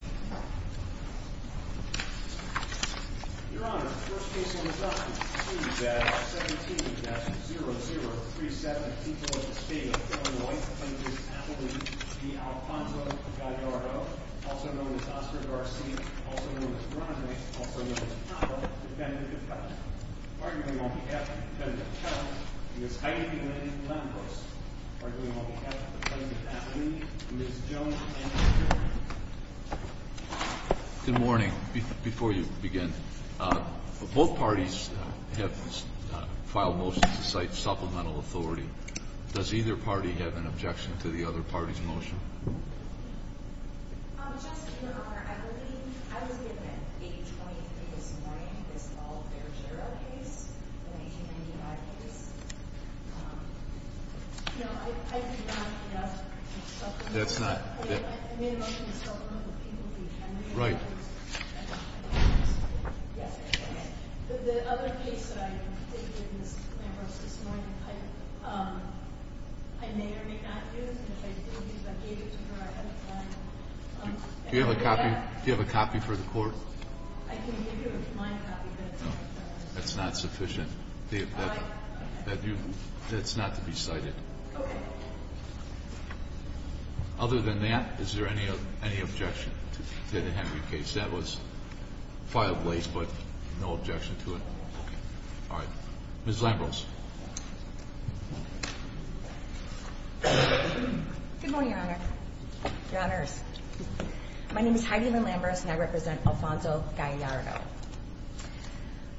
Your Honor, the first case on the block is C-17-0037, in the state of Illinois. The plaintiff is Apolline V. Alfonso Gallardo, also known as Oscar Garcia, also known as Grande, also known as Papa, defendant of Cali. Arguably on behalf of the defendant of Cali, he is hiding in a lamppost. Arguably on behalf of the plaintiff, Apolline, Ms. Jones. Good morning. Before you begin, both parties have filed motions to cite supplemental authority. Does either party have an objection to the other party's motion? Just, Your Honor, I believe I was given at 8.23 this morning, this Ball Fairgera case, the 1995 case. No, I do not have a supplementary. I may have mentioned the supplemental people to the attorney. Right. Yes, I did. But the other case that I didn't get in this lamppost this morning, I may or may not do, and if I did, if I gave it to her, I haven't done it. Do you have a copy? Do you have a copy for the court? I can give you a copy. That's not sufficient. That's not to be cited. Okay. Other than that, is there any objection to the Henry case? That was filed late, but no objection to it. All right. Ms. Lambros. Good morning, Your Honor. Your Honors. My name is Heidi Lynn Lambros, and I represent Alfonso Gallardo.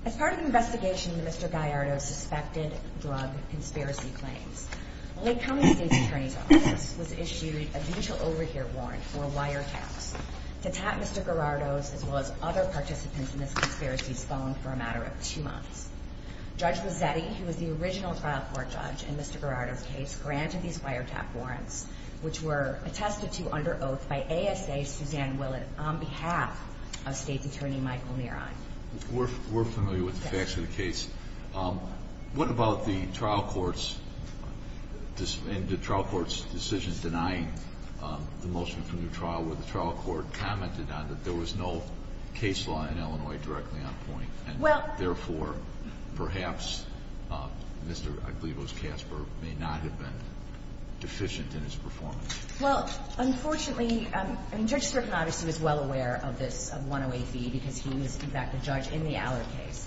As part of an investigation into Mr. Gallardo's suspected drug conspiracy claims, the Lake County State's Attorney's Office was issued a mutual overhear warrant for wiretaps to tap Mr. Gallardo's as well as other participants in this conspiracy's phone for a matter of two months. Judge Mazzetti, who was the original trial court judge in Mr. Gallardo's case, granted these wiretap warrants, which were attested to under oath by ASA Suzanne Willett on behalf of State's Attorney Michael Nearon. We're familiar with the facts of the case. What about the trial court's decisions denying the motion for a new trial where the trial court commented on that there was no case law in Illinois directly on point, and therefore, perhaps, Mr. Aglibos Casper may not have been deficient in his performance? Well, unfortunately, Judge Strickland obviously was well aware of this, of 108B, because he was, in fact, the judge in the Allard case.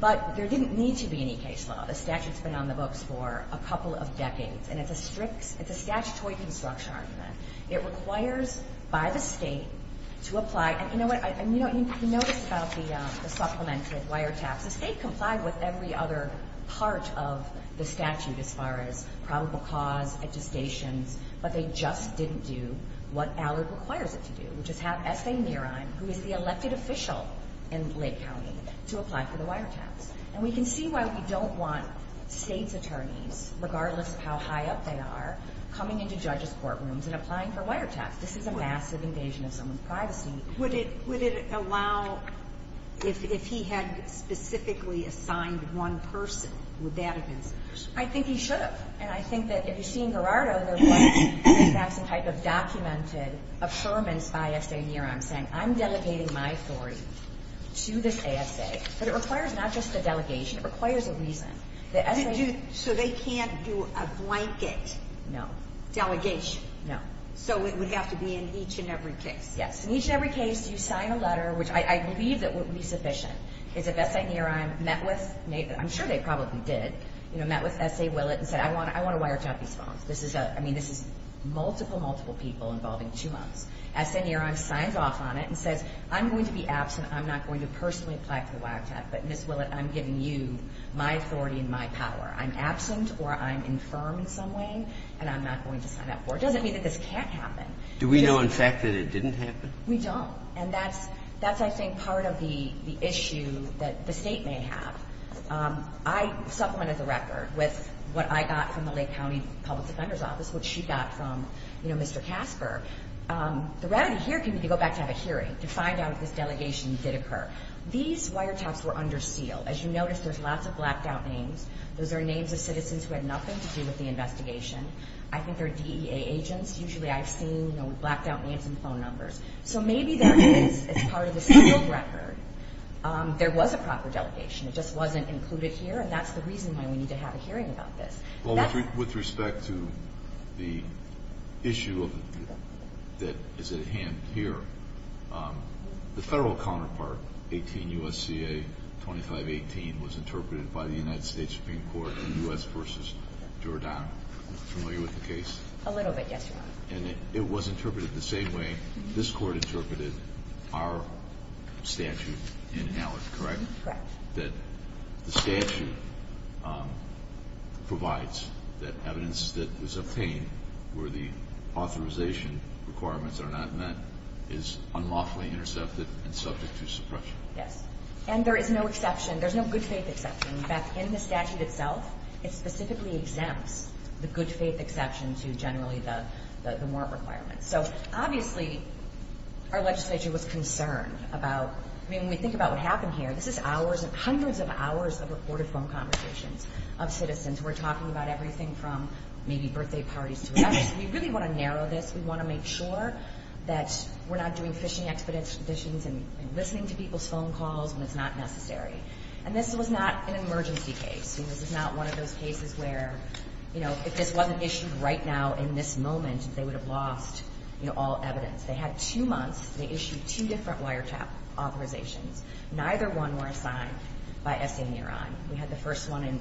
But there didn't need to be any case law. The statute's been on the books for a couple of decades. And it's a statutory construction argument. It requires by the State to apply. And you notice about the supplemented wiretaps, the State complied with every other part of the statute as far as probable cause, attestations, but they just didn't do what Allard requires it to do, which is have S.A. Nearon, who is the elected official in Lake County, to apply for the wiretaps. And we can see why we don't want State's attorneys, regardless of how high up they are, coming into judges' courtrooms and applying for wiretaps. This is a massive invasion of someone's privacy. Would it allow, if he had specifically assigned one person, would that have been sufficient? I think he should have. And I think that if you see in Gerardo, there was, in fact, some type of documented affirmance by S.A. Nearon saying, I'm delegating my authority to this ASA. But it requires not just a delegation. It requires a reason. The S.A. So they can't do a blanket delegation? No. So it would have to be in each and every case? Yes. In each and every case, you sign a letter, which I believe that would be sufficient, is if S.A. Nearon met with, I'm sure they probably did, met with S.A. Willett and said, I want a wiretap response. I mean, this is multiple, multiple people involving two months. S.A. Nearon signs off on it and says, I'm going to be absent. I'm not going to personally apply for the wiretap. But, Ms. Willett, I'm giving you my authority and my power. I'm absent or I'm infirm in some way, and I'm not going to sign up for it. It doesn't mean that this can't happen. Do we know in fact that it didn't happen? We don't. And that's, I think, part of the issue that the State may have. I supplemented the record with what I got from the Lake County Public Defender's Office, which she got from, you know, Mr. Casper. The remedy here can be to go back to have a hearing to find out if this delegation did occur. These wiretaps were under seal. As you notice, there's lots of blacked-out names. Those are names of citizens who had nothing to do with the investigation. I think they're DEA agents. Usually I've seen, you know, blacked-out names and phone numbers. So maybe there is, as part of the sealed record, there was a proper delegation. It just wasn't included here, and that's the reason why we need to have a hearing about this. Well, with respect to the issue that is at hand here, the federal counterpart, 18 U.S.C.A. 2518, was interpreted by the United States Supreme Court in U.S. versus Jordan. Are you familiar with the case? A little bit, yes, Your Honor. And it was interpreted the same way this Court interpreted our statute in Allard, correct? Correct. That the statute provides that evidence that was obtained where the authorization requirements are not met is unlawfully intercepted and subject to suppression. Yes. And there is no exception. There's no good-faith exception. In fact, in the statute itself, it specifically exempts the good-faith exception to generally the warrant requirements. So obviously our legislature was concerned about, I mean, when we think about what happened here, this is hours and hundreds of hours of recorded phone conversations of citizens who were talking about everything from maybe birthday parties to whatever. So we really want to narrow this. We want to make sure that we're not doing phishing expeditions and listening to people's phone calls when it's not necessary. And this was not an emergency case. This is not one of those cases where, you know, if this wasn't issued right now in this moment, they would have lost, you know, all evidence. They had two months. They issued two different wiretap authorizations. Neither one were assigned by Essay and Nearon. We had the first one in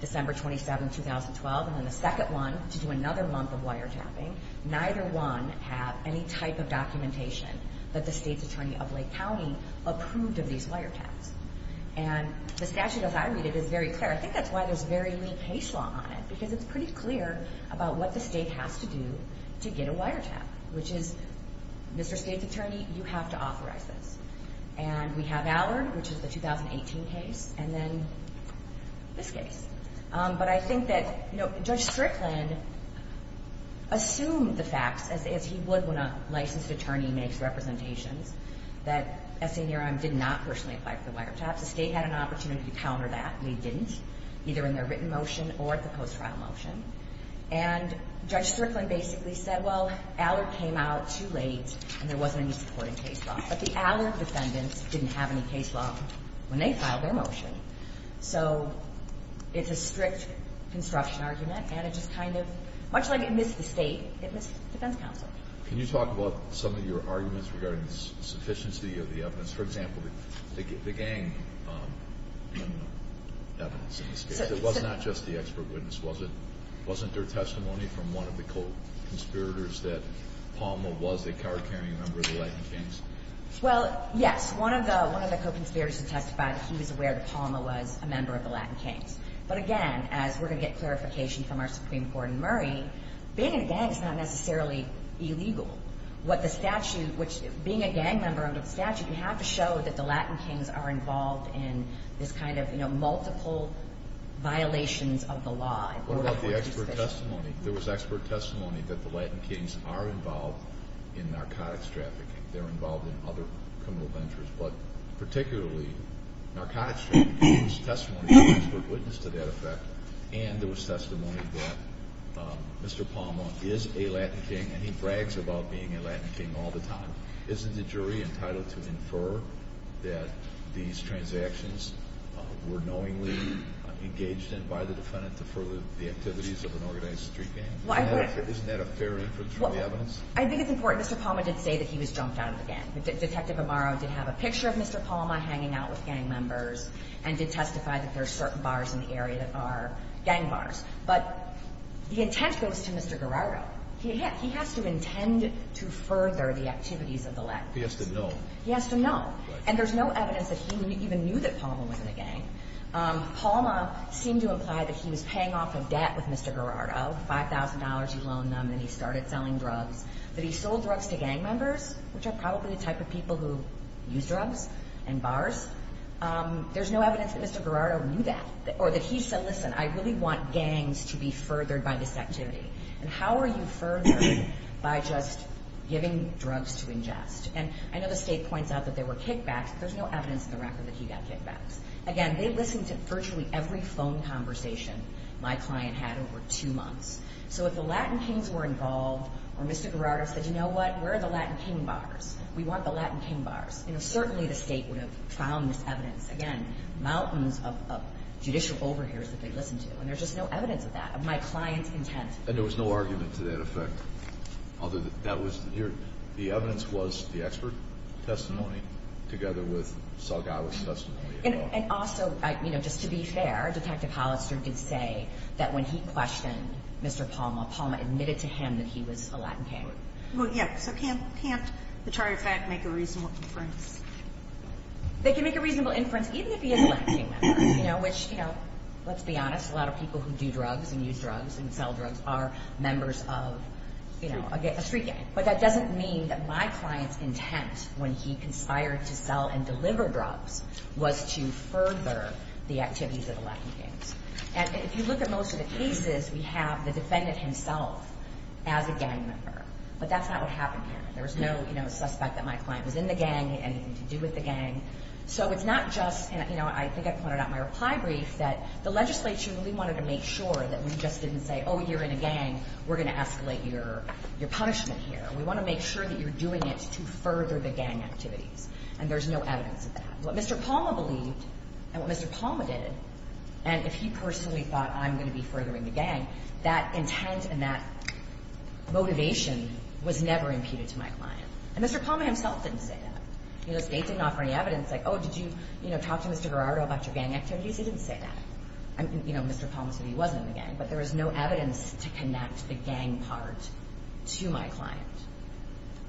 December 27, 2012, and then the second one to do another month of wiretapping. Neither one have any type of documentation that the State's Attorney of Lake County approved of these wiretaps. And the statute, as I read it, is very clear. I think that's why there's very little case law on it, because it's pretty clear about what the State has to do to get a wiretap, which is, Mr. State's Attorney, you have to authorize this. And we have Allard, which is the 2018 case, and then this case. But I think that, you know, Judge Strickland assumed the facts, as he would when a licensed attorney makes representations, that Essay and Nearon did not personally apply for the wiretaps. The State had an opportunity to counter that, and they didn't, either in their written motion or at the post-trial motion. And Judge Strickland basically said, well, Allard came out too late and there wasn't any supporting case law. But the Allard defendants didn't have any case law when they filed their motion. So it's a strict construction argument, and it just kind of, much like it missed the State, it missed defense counsel. Can you talk about some of your arguments regarding the sufficiency of the evidence? For example, the gang evidence in this case. It was not just the expert witness, was it? Wasn't there testimony from one of the co-conspirators that Palma was a co-carrying member of the Latin Kings? Well, yes. One of the co-conspirators has testified that he was aware that Palma was a member of the Latin Kings. But again, as we're going to get clarification from our Supreme Court in Murray, being in a gang is not necessarily illegal. What the statute, which being a gang member under the statute, you have to show that the Latin Kings are involved in this kind of, you know, multiple violations of the law. What about the expert testimony? There was expert testimony that the Latin Kings are involved in narcotics trafficking. They're involved in other criminal ventures. But particularly, narcotics trafficking, there was testimony from an expert being a Latin King all the time. Isn't the jury entitled to infer that these transactions were knowingly engaged in by the defendant to further the activities of an organized street gang? Isn't that a fair inference from the evidence? Well, I think it's important. Mr. Palma did say that he was jumped out of the gang. Detective Amaro did have a picture of Mr. Palma hanging out with gang members and did testify that there are certain bars in the area that are gang bars. But the intent goes to Mr. Garrardo. He has to intend to further the activities of the Latin Kings. He has to know. He has to know. And there's no evidence that he even knew that Palma was in a gang. Palma seemed to imply that he was paying off a debt with Mr. Garrardo, $5,000 he loaned them, and he started selling drugs. But he sold drugs to gang members, which are probably the type of people who use drugs in bars. There's no evidence that Mr. Garrardo knew that or that he said, listen, I really want gangs to be furthered by this activity. And how are you furthered by just giving drugs to ingest? And I know the State points out that there were kickbacks, but there's no evidence in the record that he got kickbacks. Again, they listened to virtually every phone conversation my client had over two months. So if the Latin Kings were involved or Mr. Garrardo said, you know what, where are the Latin King bars? We want the Latin King bars. Certainly the State would have found this evidence. Again, mountains of judicial overhears that they listened to. And there's just no evidence of that, of my client's intent. And there was no argument to that effect? The evidence was the expert testimony together with Salgado's testimony. And also, you know, just to be fair, Detective Hollister did say that when he questioned Mr. Palma, Palma admitted to him that he was a Latin King. Well, yes. So can't the Charter of Fact make a reasonable inference? Let's be honest, a lot of people who do drugs and use drugs and sell drugs are members of a street gang. But that doesn't mean that my client's intent when he conspired to sell and deliver drugs was to further the activities of the Latin Kings. And if you look at most of the cases, we have the defendant himself as a gang member. But that's not what happened here. There was no suspect that my client was in the gang, anything to do with the gang. So it's not just, you know, I think I pointed out in my reply brief that the legislature really wanted to make sure that we just didn't say, oh, you're in a gang, we're going to escalate your punishment here. We want to make sure that you're doing it to further the gang activities. And there's no evidence of that. What Mr. Palma believed and what Mr. Palma did, and if he personally thought I'm going to be furthering the gang, that intent and that motivation was never imputed to my client. And Mr. Palma himself didn't say that. The state didn't offer any evidence like, oh, did you talk to Mr. Gerardo about your gang activities? He didn't say that. You know, Mr. Palma said he wasn't in the gang. But there was no evidence to connect the gang part to my client.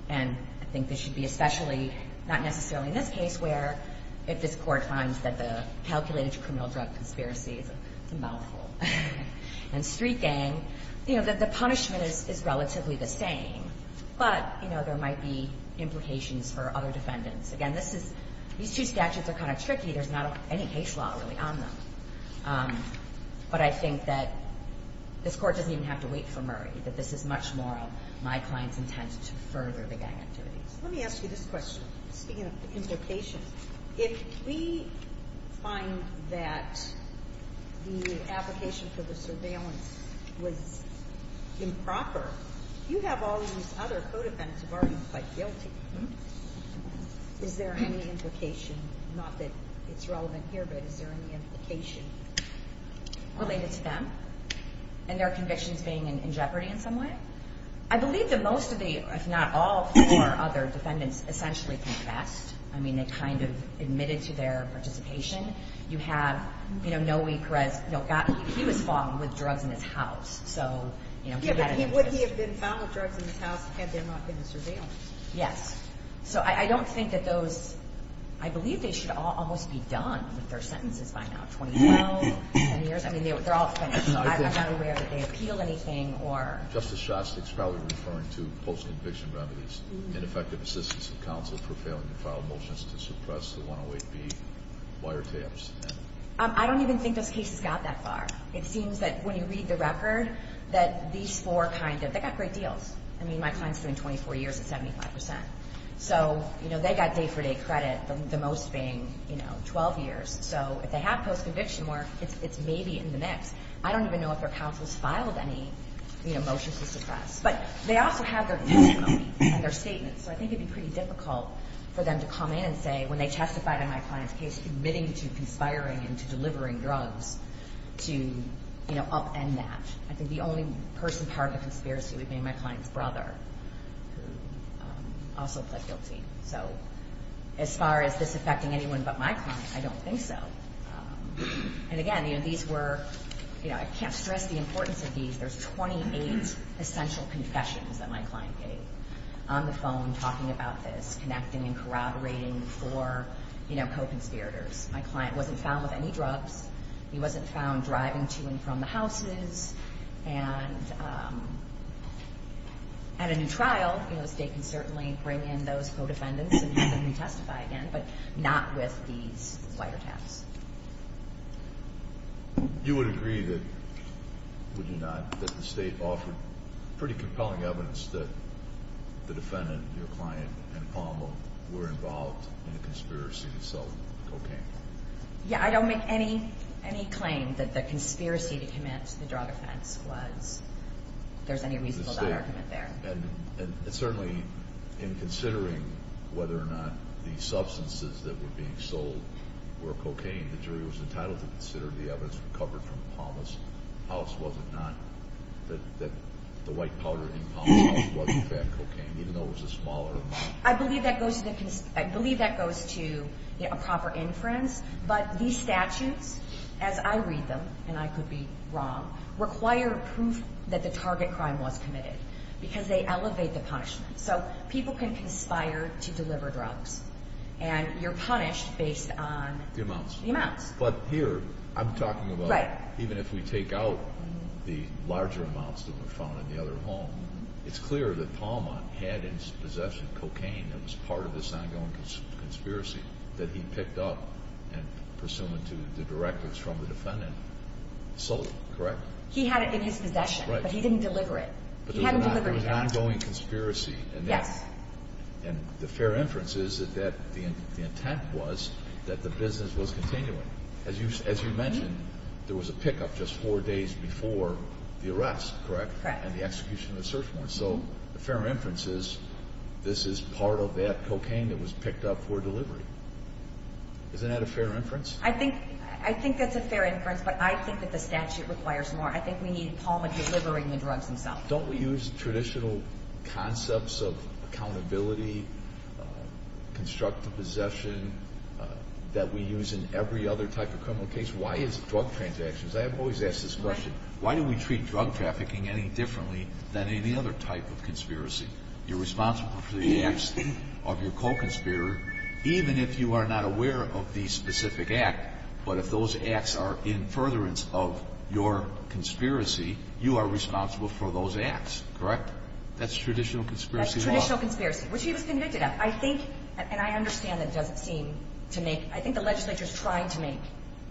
And I think this should be especially, not necessarily in this case, where if this court finds that the calculated criminal drug conspiracy is a mouthful, and street gang, you know, that the punishment is relatively the same. But, you know, there might be implications for other defendants. Again, these two statutes are kind of tricky. There's not any case law really on them. But I think that this court doesn't even have to wait for Murray, that this is much more of my client's intent to further the gang activities. Let me ask you this question, speaking of implications. If we find that the application for the surveillance was improper, you have all these other co-defendants who have already been quite guilty. Is there any implication, not that it's relevant here, but is there any implication related to them and their convictions being in jeopardy in some way? I believe that most of the, if not all, four other defendants essentially confessed. I mean, they kind of admitted to their participation. You have, you know, Noe Perez, he was found with drugs in his house. Yeah, but would he have been found with drugs in his house had there not been a surveillance? Yes. So I don't think that those, I believe they should all almost be done with their sentences by now, 2012, 10 years. I mean, they're all finished, so I'm not aware that they appeal anything. Justice Shostak's probably referring to post-conviction remedies, ineffective assistance of counsel for failing to file motions to suppress the 108B wiretaps. I don't even think this case has got that far. It seems that when you read the record that these four kind of, they got great deals. I mean, my client's doing 24 years at 75%. So, you know, they got day-for-day credit, the most being, you know, 12 years. So if they have post-conviction work, it's maybe in the mix. I don't even know if their counsel's filed any, you know, motions to suppress. But they also have their testimony and their statements, so I think it would be pretty difficult for them to come in and say, when they testified in my client's case, that they were committing to conspiring and to delivering drugs to, you know, upend that. I think the only person part of the conspiracy would be my client's brother, who also pled guilty. So as far as this affecting anyone but my client, I don't think so. And again, you know, these were, you know, I can't stress the importance of these. There's 28 essential confessions that my client gave on the phone talking about this, and connecting and corroborating for, you know, co-conspirators. My client wasn't found with any drugs. He wasn't found driving to and from the houses. And at a new trial, you know, the state can certainly bring in those co-defendants and have them retestify again, but not with these wiretaps. You would agree that, would you not, that the state offered pretty compelling evidence that the defendant, your client, and Palmer were involved in a conspiracy to sell cocaine? Yeah, I don't make any claim that the conspiracy to commit the drug offense was. If there's any reason for that argument there. And certainly in considering whether or not the substances that were being sold were cocaine, the jury was entitled to consider the evidence recovered from Palmer's house, that the white powder in Palmer's house wasn't fat cocaine, even though it was a smaller amount. I believe that goes to a proper inference, but these statutes, as I read them, and I could be wrong, require proof that the target crime was committed because they elevate the punishment. So people can conspire to deliver drugs, and you're punished based on the amounts. The amounts. But here, I'm talking about even if we take out the larger amounts that were found in the other home, it's clear that Palmer had in his possession cocaine that was part of this ongoing conspiracy that he picked up and pursued to the directives from the defendant, sold it, correct? He had it in his possession, but he didn't deliver it. He hadn't delivered it yet. But there was an ongoing conspiracy. Yes. And the fair inference is that the intent was that the business was continuing. As you mentioned, there was a pickup just four days before the arrest, correct? Correct. And the execution of the search warrant. So the fair inference is this is part of that cocaine that was picked up for delivery. Isn't that a fair inference? I think that's a fair inference, but I think that the statute requires more. I think we need Palmer delivering the drugs himself. Don't we use traditional concepts of accountability, constructive possession, that we use in every other type of criminal case? Why is it drug transactions? I have always asked this question. Why do we treat drug trafficking any differently than any other type of conspiracy? You're responsible for the acts of your co-conspirator, even if you are not aware of the specific act. But if those acts are in furtherance of your conspiracy, you are responsible for those acts, correct? That's traditional conspiracy law. That's traditional conspiracy, which he was convicted of. I think, and I understand that doesn't seem to make – I think the legislature is trying to make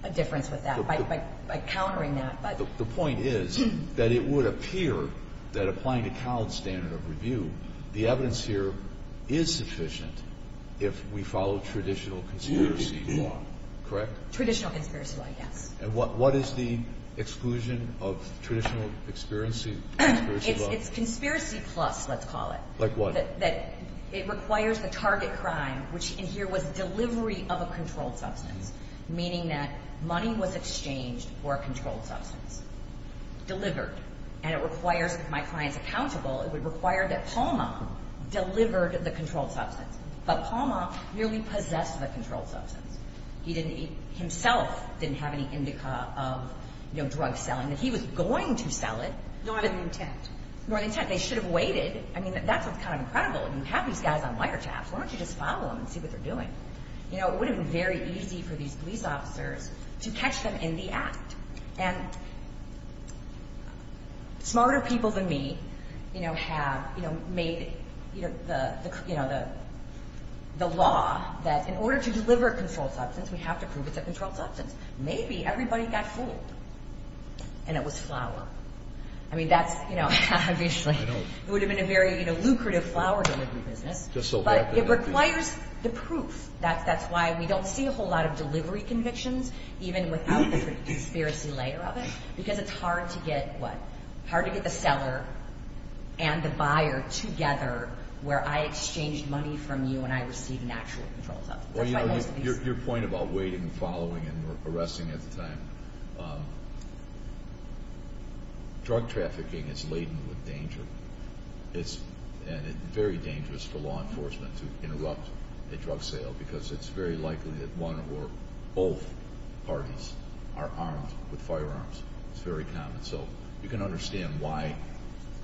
a difference with that by countering that. But the point is that it would appear that applying the Collins standard of review, the evidence here is sufficient if we follow traditional conspiracy law, correct? Traditional conspiracy law, yes. And what is the exclusion of traditional conspiracy law? It's conspiracy plus, let's call it. Like what? That it requires the target crime, which in here was delivery of a controlled substance, meaning that money was exchanged for a controlled substance, delivered. And it requires, if my client is accountable, it would require that Palmer delivered the controlled substance. But Palmer merely possessed the controlled substance. He himself didn't have any indica of drug selling. If he was going to sell it. Nor the intent. Nor the intent. They should have waited. I mean, that's what's kind of incredible. You have these guys on wiretaps. Why don't you just follow them and see what they're doing? You know, it would have been very easy for these police officers to catch them in the act. And smarter people than me, you know, have made the law that in order to deliver a controlled substance, we have to prove it's a controlled substance. Maybe everybody got fooled and it was flour. I mean, that's, you know, obviously it would have been a very lucrative flour delivery business. But it requires the proof. That's why we don't see a whole lot of delivery convictions, even without the conspiracy layer of it. Because it's hard to get what? Hard to get the seller and the buyer together where I exchanged money from you and I received an actual controlled substance. Your point about waiting and following and arresting at the time. Drug trafficking is laden with danger. It's very dangerous for law enforcement to interrupt a drug sale because it's very likely that one or both parties are armed with firearms. It's very common. So you can understand why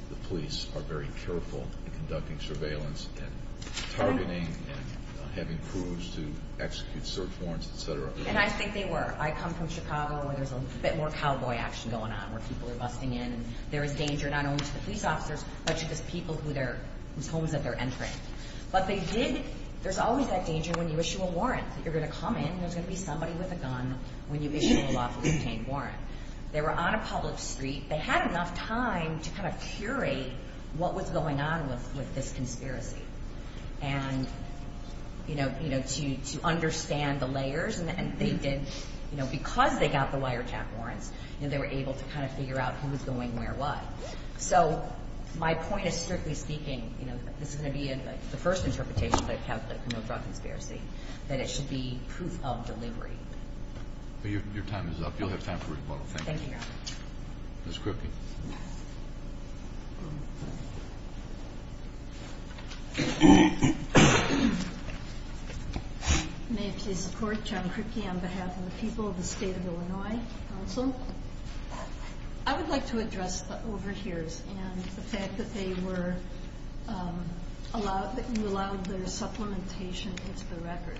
the police are very careful in conducting surveillance and targeting and having crews to execute search warrants, et cetera. And I think they were. I come from Chicago where there's a bit more cowboy action going on where people are busting in. There is danger not only to the police officers, but to those people whose homes that they're entering. But they did. There's always that danger when you issue a warrant that you're going to come in. There's going to be somebody with a gun when you issue a lawful detained warrant. They were on a public street. They had enough time to kind of curate what was going on with this conspiracy. And, you know, to understand the layers. And they did. Because they got the wiretap warrants, they were able to kind of figure out who was going where what. So my point is, strictly speaking, this is going to be the first interpretation that I have of the criminal drug conspiracy, that it should be proof of delivery. Your time is up. You'll have time for rebuttal. Thank you. Ms. Kripke. May I please support? John Kripke on behalf of the people of the State of Illinois Council. I would like to address the overhears and the fact that they were allowed, that you allowed their supplementation into the record.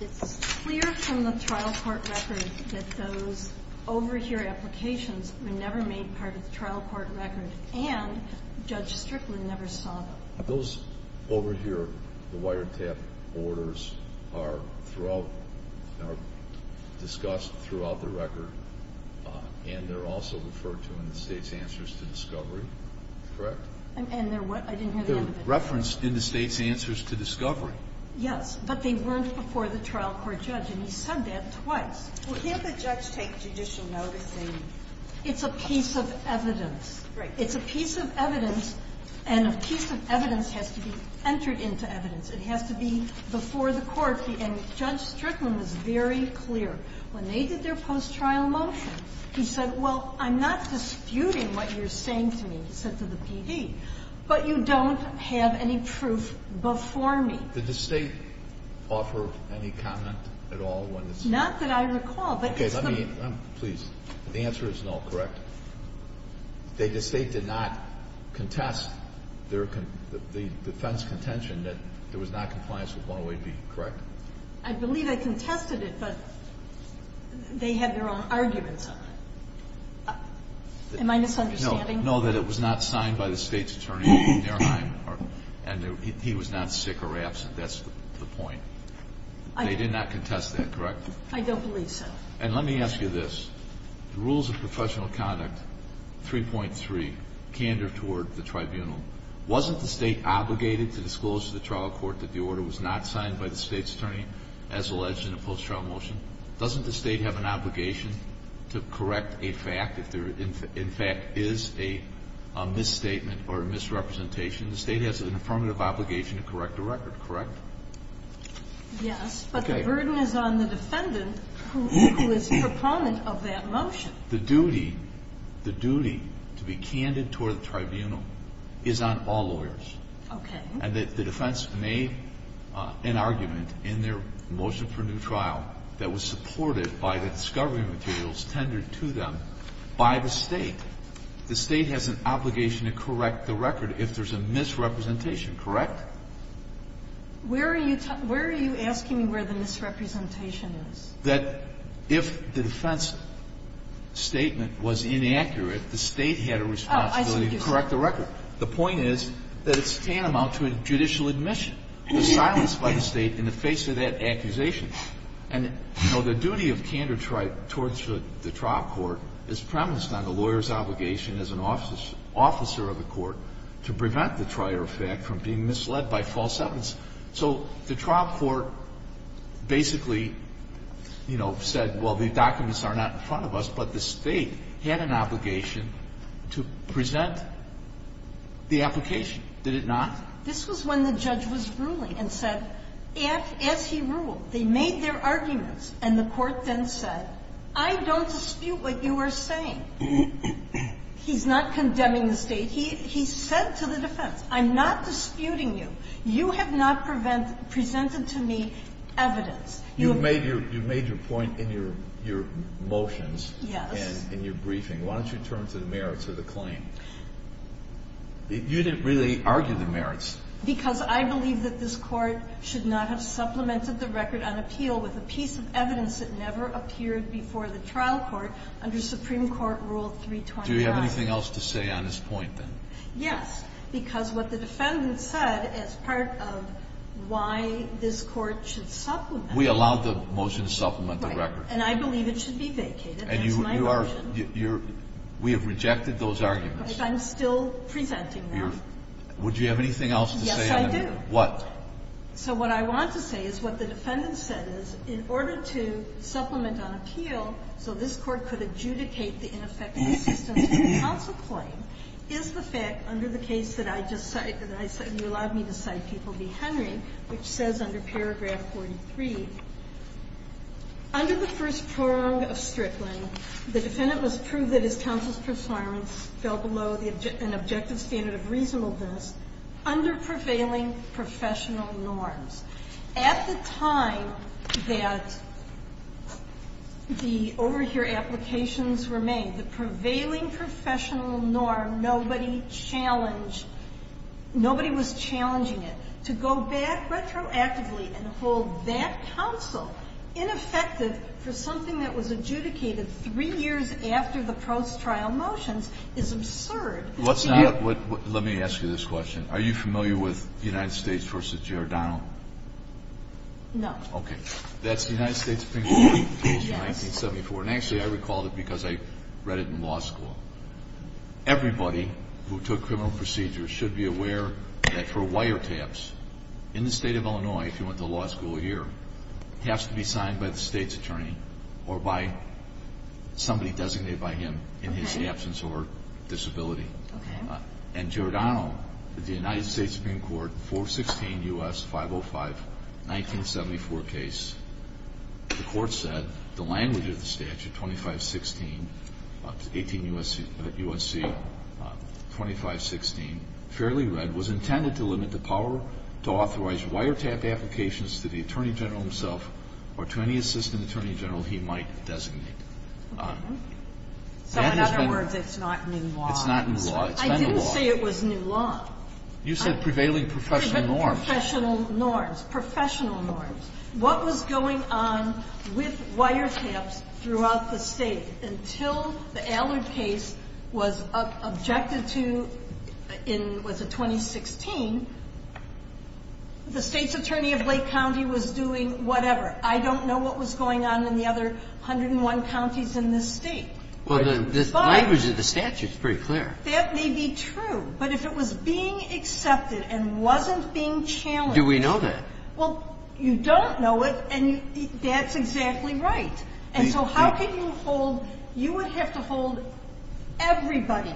It's clear from the trial court record that those overhear applications were never made part of the trial court record. And Judge Strickland never saw them. Those overhear, the wiretap orders are throughout, are discussed throughout the record. And they're also referred to in the state's answers to discovery. Correct? And they're what? I didn't hear the end of it. They're referenced in the state's answers to discovery. Yes. But they weren't before the trial court judge. And he said that twice. Well, can't the judge take judicial noticing? It's a piece of evidence. Right. It's a piece of evidence, and a piece of evidence has to be entered into evidence. It has to be before the court. And Judge Strickland was very clear. When they did their post-trial motion, he said, well, I'm not disputing what you're saying to me, he said to the PD, but you don't have any proof before me. Did the State offer any comment at all when this happened? Not that I recall. Okay. Please. The answer is no. Correct? The State did not contest their defense contention that there was not compliance with 108B. Correct? I believe they contested it, but they had their own arguments on it. Am I misunderstanding? No. No, that it was not signed by the State's attorney, and he was not sick or absent. That's the point. They did not contest that, correct? I don't believe so. And let me ask you this. The rules of professional conduct 3.3, candor toward the tribunal, wasn't the State obligated to disclose to the trial court that the order was not signed by the State's attorney as alleged in the post-trial motion? Doesn't the State have an obligation to correct a fact if there, in fact, is a misstatement or a misrepresentation? The State has an affirmative obligation to correct the record, correct? Yes, but the burden is on the defendant who is a proponent of that motion. The duty, the duty to be candid toward the tribunal is on all lawyers. Okay. And that the defense made an argument in their motion for new trial that was supported by the discovery materials tendered to them by the State. The State has an obligation to correct the record if there's a misrepresentation, correct? Where are you asking me where the misrepresentation is? That if the defense statement was inaccurate, the State had a responsibility to correct the record. The point is that it's tantamount to a judicial admission. It's silenced by the State in the face of that accusation. And, you know, the duty of candor towards the trial court is premised on the lawyer's obligation as an officer of the court to prevent the trial fact from being misled by false evidence. So the trial court basically, you know, said, well, the documents are not in front of us, but the State had an obligation to present the application. Did it not? This was when the judge was ruling and said, as he ruled, they made their arguments, and the court then said, I don't dispute what you are saying. He's not condemning the State. He said to the defense, I'm not disputing you. You have not presented to me evidence. You've made your point in your motions. Yes. And in your briefing. Why don't you turn to the merits of the claim? You didn't really argue the merits. Because I believe that this Court should not have supplemented the record on appeal with a piece of evidence that never appeared before the trial court under Supreme Court Rule 329. Do you have anything else to say on this point, then? Yes. Because what the defendant said as part of why this Court should supplement the record is that they allowed the motion to supplement the record. Right. And I believe it should be vacated. That's my version. And you are – you're – we have rejected those arguments. But I'm still presenting them. Would you have anything else to say on that? Yes, I do. What? So what I want to say is what the defendant said is, in order to supplement on appeal so this Court could adjudicate the ineffective assistance to the counsel claim, is the fact under the case that I just cited, that you allowed me to cite P. Henry, which says under paragraph 43, under the first prorong of Strickland, the defendant must prove that his counsel's performance fell below an objective standard of reasonableness under prevailing professional norms. At the time that the overhear applications were made, the prevailing professional norm, nobody challenged – nobody was challenging it. To go back retroactively and hold that counsel ineffective for something that was adjudicated three years after the post-trial motions is absurd. Let's not – let me ask you this question. Are you familiar with the United States v. Giordano? No. That's the United States Supreme Court rules of 1974. Yes. And actually, I recalled it because I read it in law school. Everybody who took criminal procedures should be aware that for wiretaps, in the state of Illinois, if you went to law school here, it has to be signed by the state's attorney or by somebody designated by him in his absence or disability. And Giordano, the United States Supreme Court, 416 U.S. 505, 1974 case, the Court said the language of the statute, 2516, 18 U.S.C., 2516, fairly read, was intended to limit the power to authorize wiretap applications to the attorney general himself or to any assistant attorney general he might designate. Okay. So in other words, it's not new law. It's not new law. I didn't say it was new law. You said prevailing professional norms. Prevailing professional norms. Professional norms. What was going on with wiretaps throughout the State until the Allard case was objected to in, was it 2016? The State's attorney of Lake County was doing whatever. I don't know what was going on in the other 101 counties in this State. Well, the language of the statute is pretty clear. That may be true, but if it was being accepted and wasn't being challenged Do we know that? Well, you don't know it, and that's exactly right. And so how can you hold you would have to hold everybody,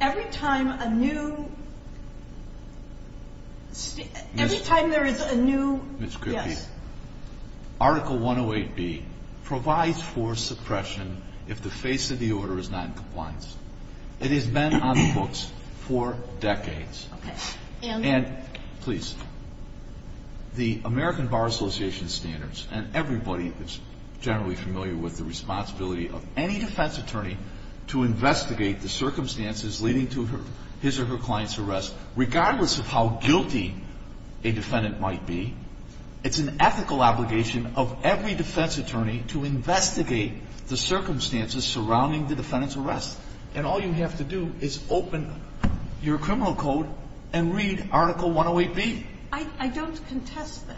every time a new Every time there is a new Ms. Kirby. Yes. Article 108B provides for suppression if the face of the order is not in compliance. It has been on the books for decades. Okay. And Please. The American Bar Association standards, and everybody is generally familiar with the responsibility of any defense attorney to investigate the circumstances leading to his or her client's arrest, regardless of how guilty a defendant might be. It's an ethical obligation of every defense attorney to investigate the circumstances surrounding the defendant's arrest. And all you have to do is open your criminal code and read Article 108B. I don't contest that.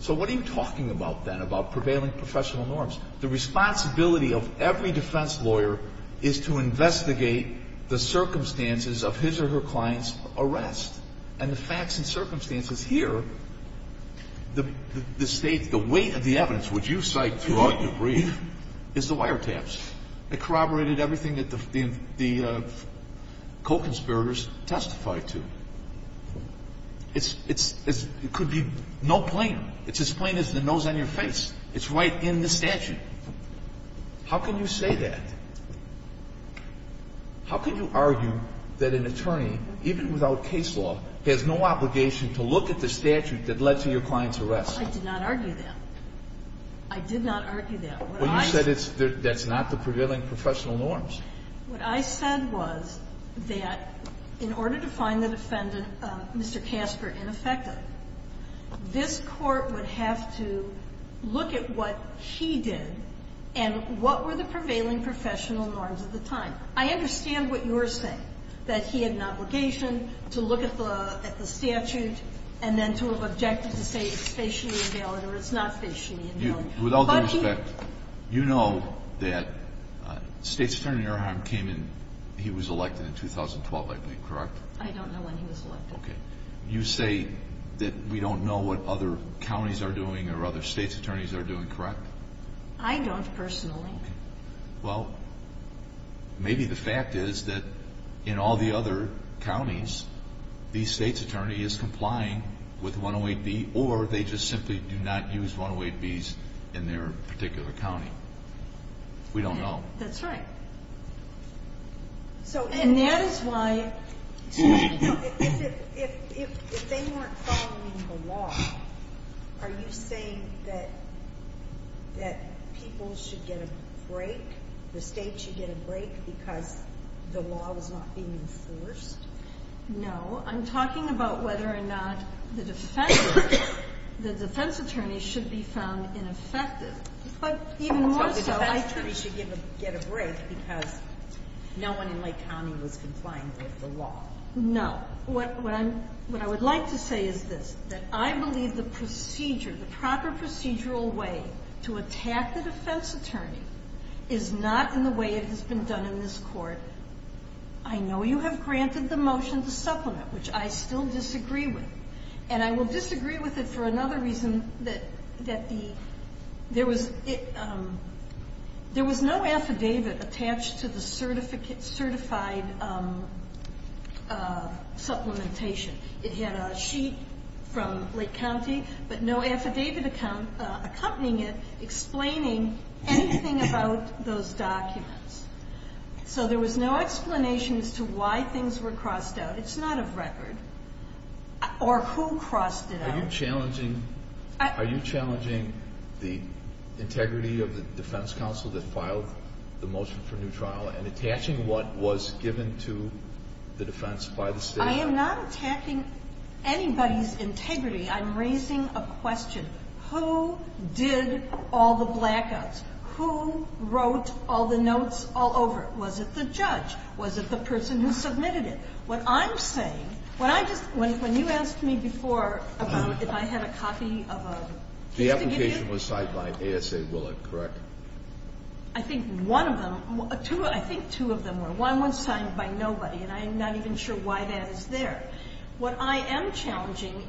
So what are you talking about, then, about prevailing professional norms? The responsibility of every defense lawyer is to investigate the circumstances of his or her client's arrest. And the facts and circumstances here, the State, the weight of the evidence, which you cite throughout your brief, is the wiretaps. It corroborated everything that the co-conspirators testified to. It could be no plainer. It's as plain as the nose on your face. It's right in the statute. How can you say that? How can you argue that an attorney, even without case law, has no obligation to look at the statute that led to your client's arrest? I did not argue that. I did not argue that. What you said is that's not the prevailing professional norms. What I said was that in order to find the defendant, Mr. Casper, ineffective, this Court would have to look at what he did and what were the prevailing professional norms at the time. I understand what you're saying, that he had an obligation to look at the statute and then to have objected to say it's facially invalid or it's not facially invalid. With all due respect, you know that State's Attorney Erheim came in, he was elected in 2012, I think, correct? I don't know when he was elected. You say that we don't know what other counties are doing or other State's attorneys are doing, correct? I don't personally. Well, maybe the fact is that in all the other counties, the State's attorney is complying with 108B or they just simply do not use 108Bs in their particular county. We don't know. That's right. And that is why... If they weren't following the law, are you saying that people should get a break, the State should get a break because the law was not being enforced? No. I'm talking about whether or not the defense attorney should be found ineffective. But even more so... So the defense attorney should get a break because no one in Lake County was complying with the law. No. What I would like to say is this, that I believe the procedure, the proper procedural way to attack the defense attorney is not in the way it has been done in this Court. I know you have granted the motion to supplement, which I still disagree with. And I will disagree with it for another reason, that there was no affidavit attached to the certified supplementation. It had a sheet from Lake County, but no affidavit accompanying it explaining anything about those documents. So there was no explanation as to why things were crossed out. It's not a record. Or who crossed it out. Are you challenging the integrity of the defense counsel that filed the motion for new trial and attaching what was given to the defense by the State? I am not attaching anybody's integrity. I'm raising a question. Who did all the blackouts? Who wrote all the notes all over it? Was it the judge? Was it the person who submitted it? What I'm saying, when I just, when you asked me before about if I had a copy of a case to give you. The application was signed by ASA Willett, correct? I think one of them, two, I think two of them were. One was signed by nobody, and I'm not even sure why that is there. What I am challenging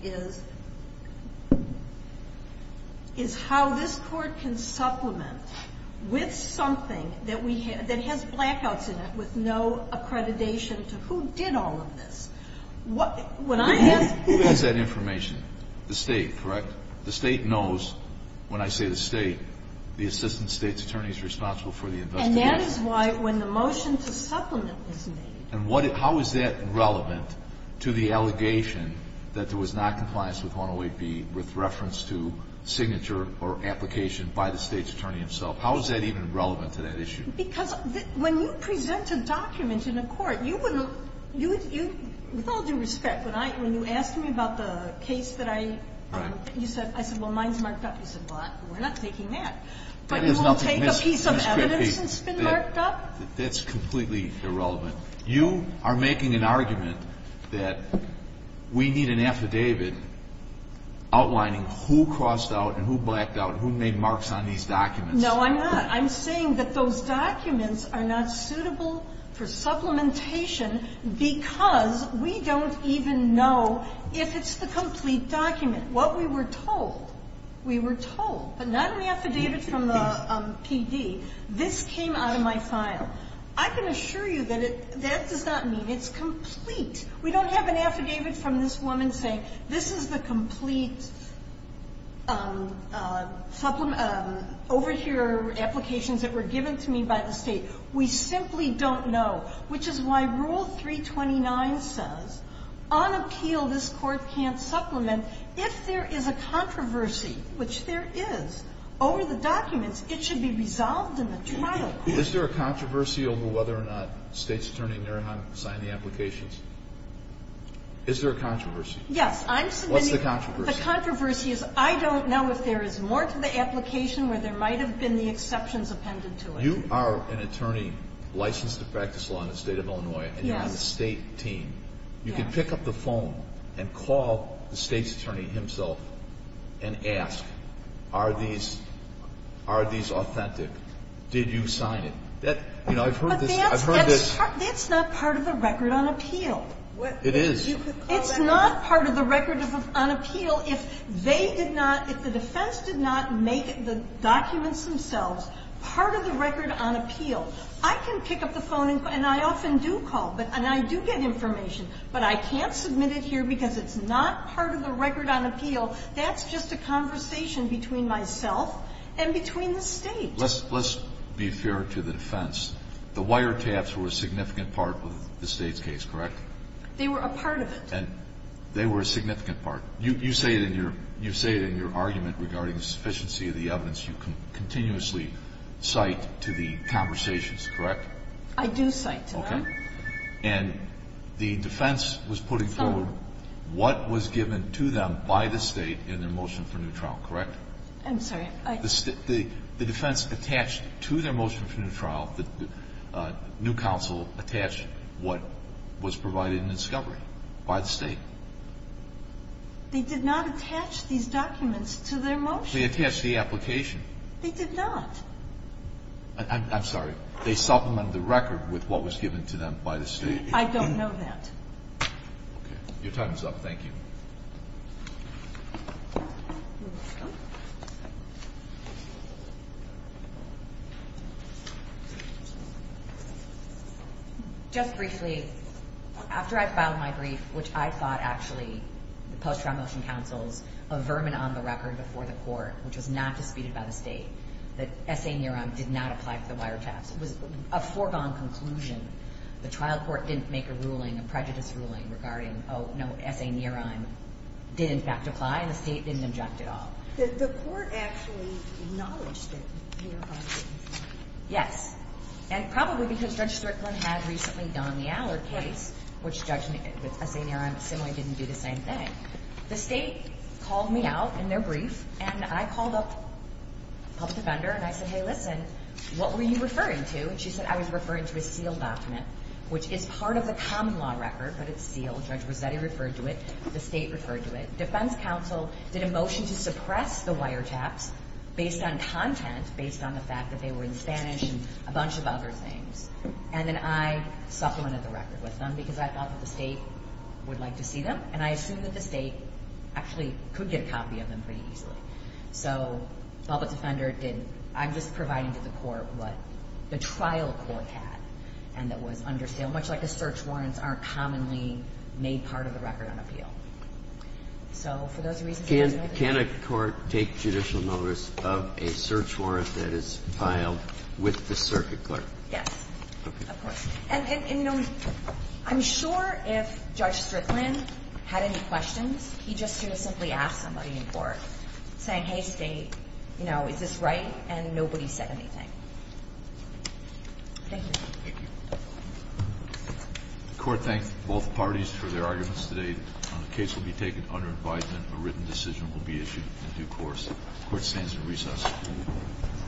is how this Court can supplement with something that has blackouts in it with no accreditation to who did all of this. Who has that information? The State, correct? The State knows when I say the State, the Assistant State's Attorney is responsible for the investigation. And that is why when the motion to supplement is made. And how is that relevant to the allegation that there was not compliance with 108B with reference to signature or application by the State's Attorney himself? How is that even relevant to that issue? Because when you present a document in a court, you would, with all due respect, when you asked me about the case that I, you said, I said, well, mine's marked up. You said, well, we're not taking that. But you will take a piece of evidence that's been marked up? That's completely irrelevant. You are making an argument that we need an affidavit outlining who crossed out and who blacked out and who made marks on these documents. No, I'm not. I'm saying that those documents are not suitable for supplementation because we don't even know if it's the complete document. What we were told, we were told, but not in the affidavit from the PD. This came out of my file. I can assure you that it does not mean it's complete. We don't have an affidavit from this woman saying this is the complete supplement over here, applications that were given to me by the State. We simply don't know, which is why Rule 329 says, on appeal, this Court can't supplement. If there is a controversy, which there is, over the documents, it should be resolved in the trial. Is there a controversy over whether or not the State's attorney, Narahan, signed the applications? Is there a controversy? Yes. What's the controversy? The controversy is I don't know if there is more to the application where there might have been the exceptions appended to it. You are an attorney licensed to practice law in the State of Illinois, and you're on the State team. You can pick up the phone and call the State's attorney himself and ask, are these authentic? Did you sign it? You know, I've heard this. I've heard this. But that's not part of the record on appeal. It is. It's not part of the record on appeal if they did not, if the defense did not make the documents themselves part of the record on appeal. I can pick up the phone, and I often do call, and I do get information, but I can't submit it here because it's not part of the record on appeal. That's just a conversation between myself and between the State. Let's be fair to the defense. The wiretaps were a significant part of the State's case, correct? They were a part of it. They were a significant part. You say it in your argument regarding the sufficiency of the evidence. You continuously cite to the conversations, correct? I do cite to them. Okay. And the defense was putting forward what was given to them by the State in their motion for new trial, correct? I'm sorry. The defense attached to their motion for new trial, the new counsel attached what was provided in discovery by the State. They did not attach these documents to their motion. They attached the application. They did not. I'm sorry. They supplemented the record with what was given to them by the State. I don't know that. Okay. Your time is up. Thank you. Just briefly, after I filed my brief, which I thought actually the post-trial motion counsels a vermin on the record before the Court, which was not disputed by the State, that S.A. Nehrheim did not apply for the wiretaps. It was a foregone conclusion. The trial court didn't make a ruling, a prejudice ruling, regarding, oh, no, S.A. Nehrheim did in fact apply, and the State didn't object at all. The Court actually acknowledged that Nehrheim did. Yes. And probably because Judge Strickland had recently done the Allard case, which Judge Nehrheim similarly didn't do the same thing, the State called me out in their brief, and I called up the public defender and I said, hey, listen, what were you referring to? And she said I was referring to a sealed document, which is part of the common law record, but it's sealed. Judge Rossetti referred to it. The State referred to it. Defense counsel did a motion to suppress the wiretaps based on content, based on the fact that they were in Spanish and a bunch of other things. And then I supplemented the record with them because I thought that the State would like to see them, and I assumed that the State actually could get a copy of them pretty easily. So public defender didn't. I'm just providing to the Court what the trial Court had and that was under seal, much like the search warrants aren't commonly made part of the record on appeal. So for those reasons, I just wanted to make sure. Can a court take judicial notice of a search warrant that is filed with the circuit clerk? Yes, of course. And, you know, I'm sure if Judge Strickland had any questions, he just could have simply asked somebody in court, saying, hey, State, you know, is this right? And nobody said anything. Thank you. Thank you. The Court thanks both parties for their arguments today. The case will be taken under invitement. A written decision will be issued in due course. The Court stands in recess.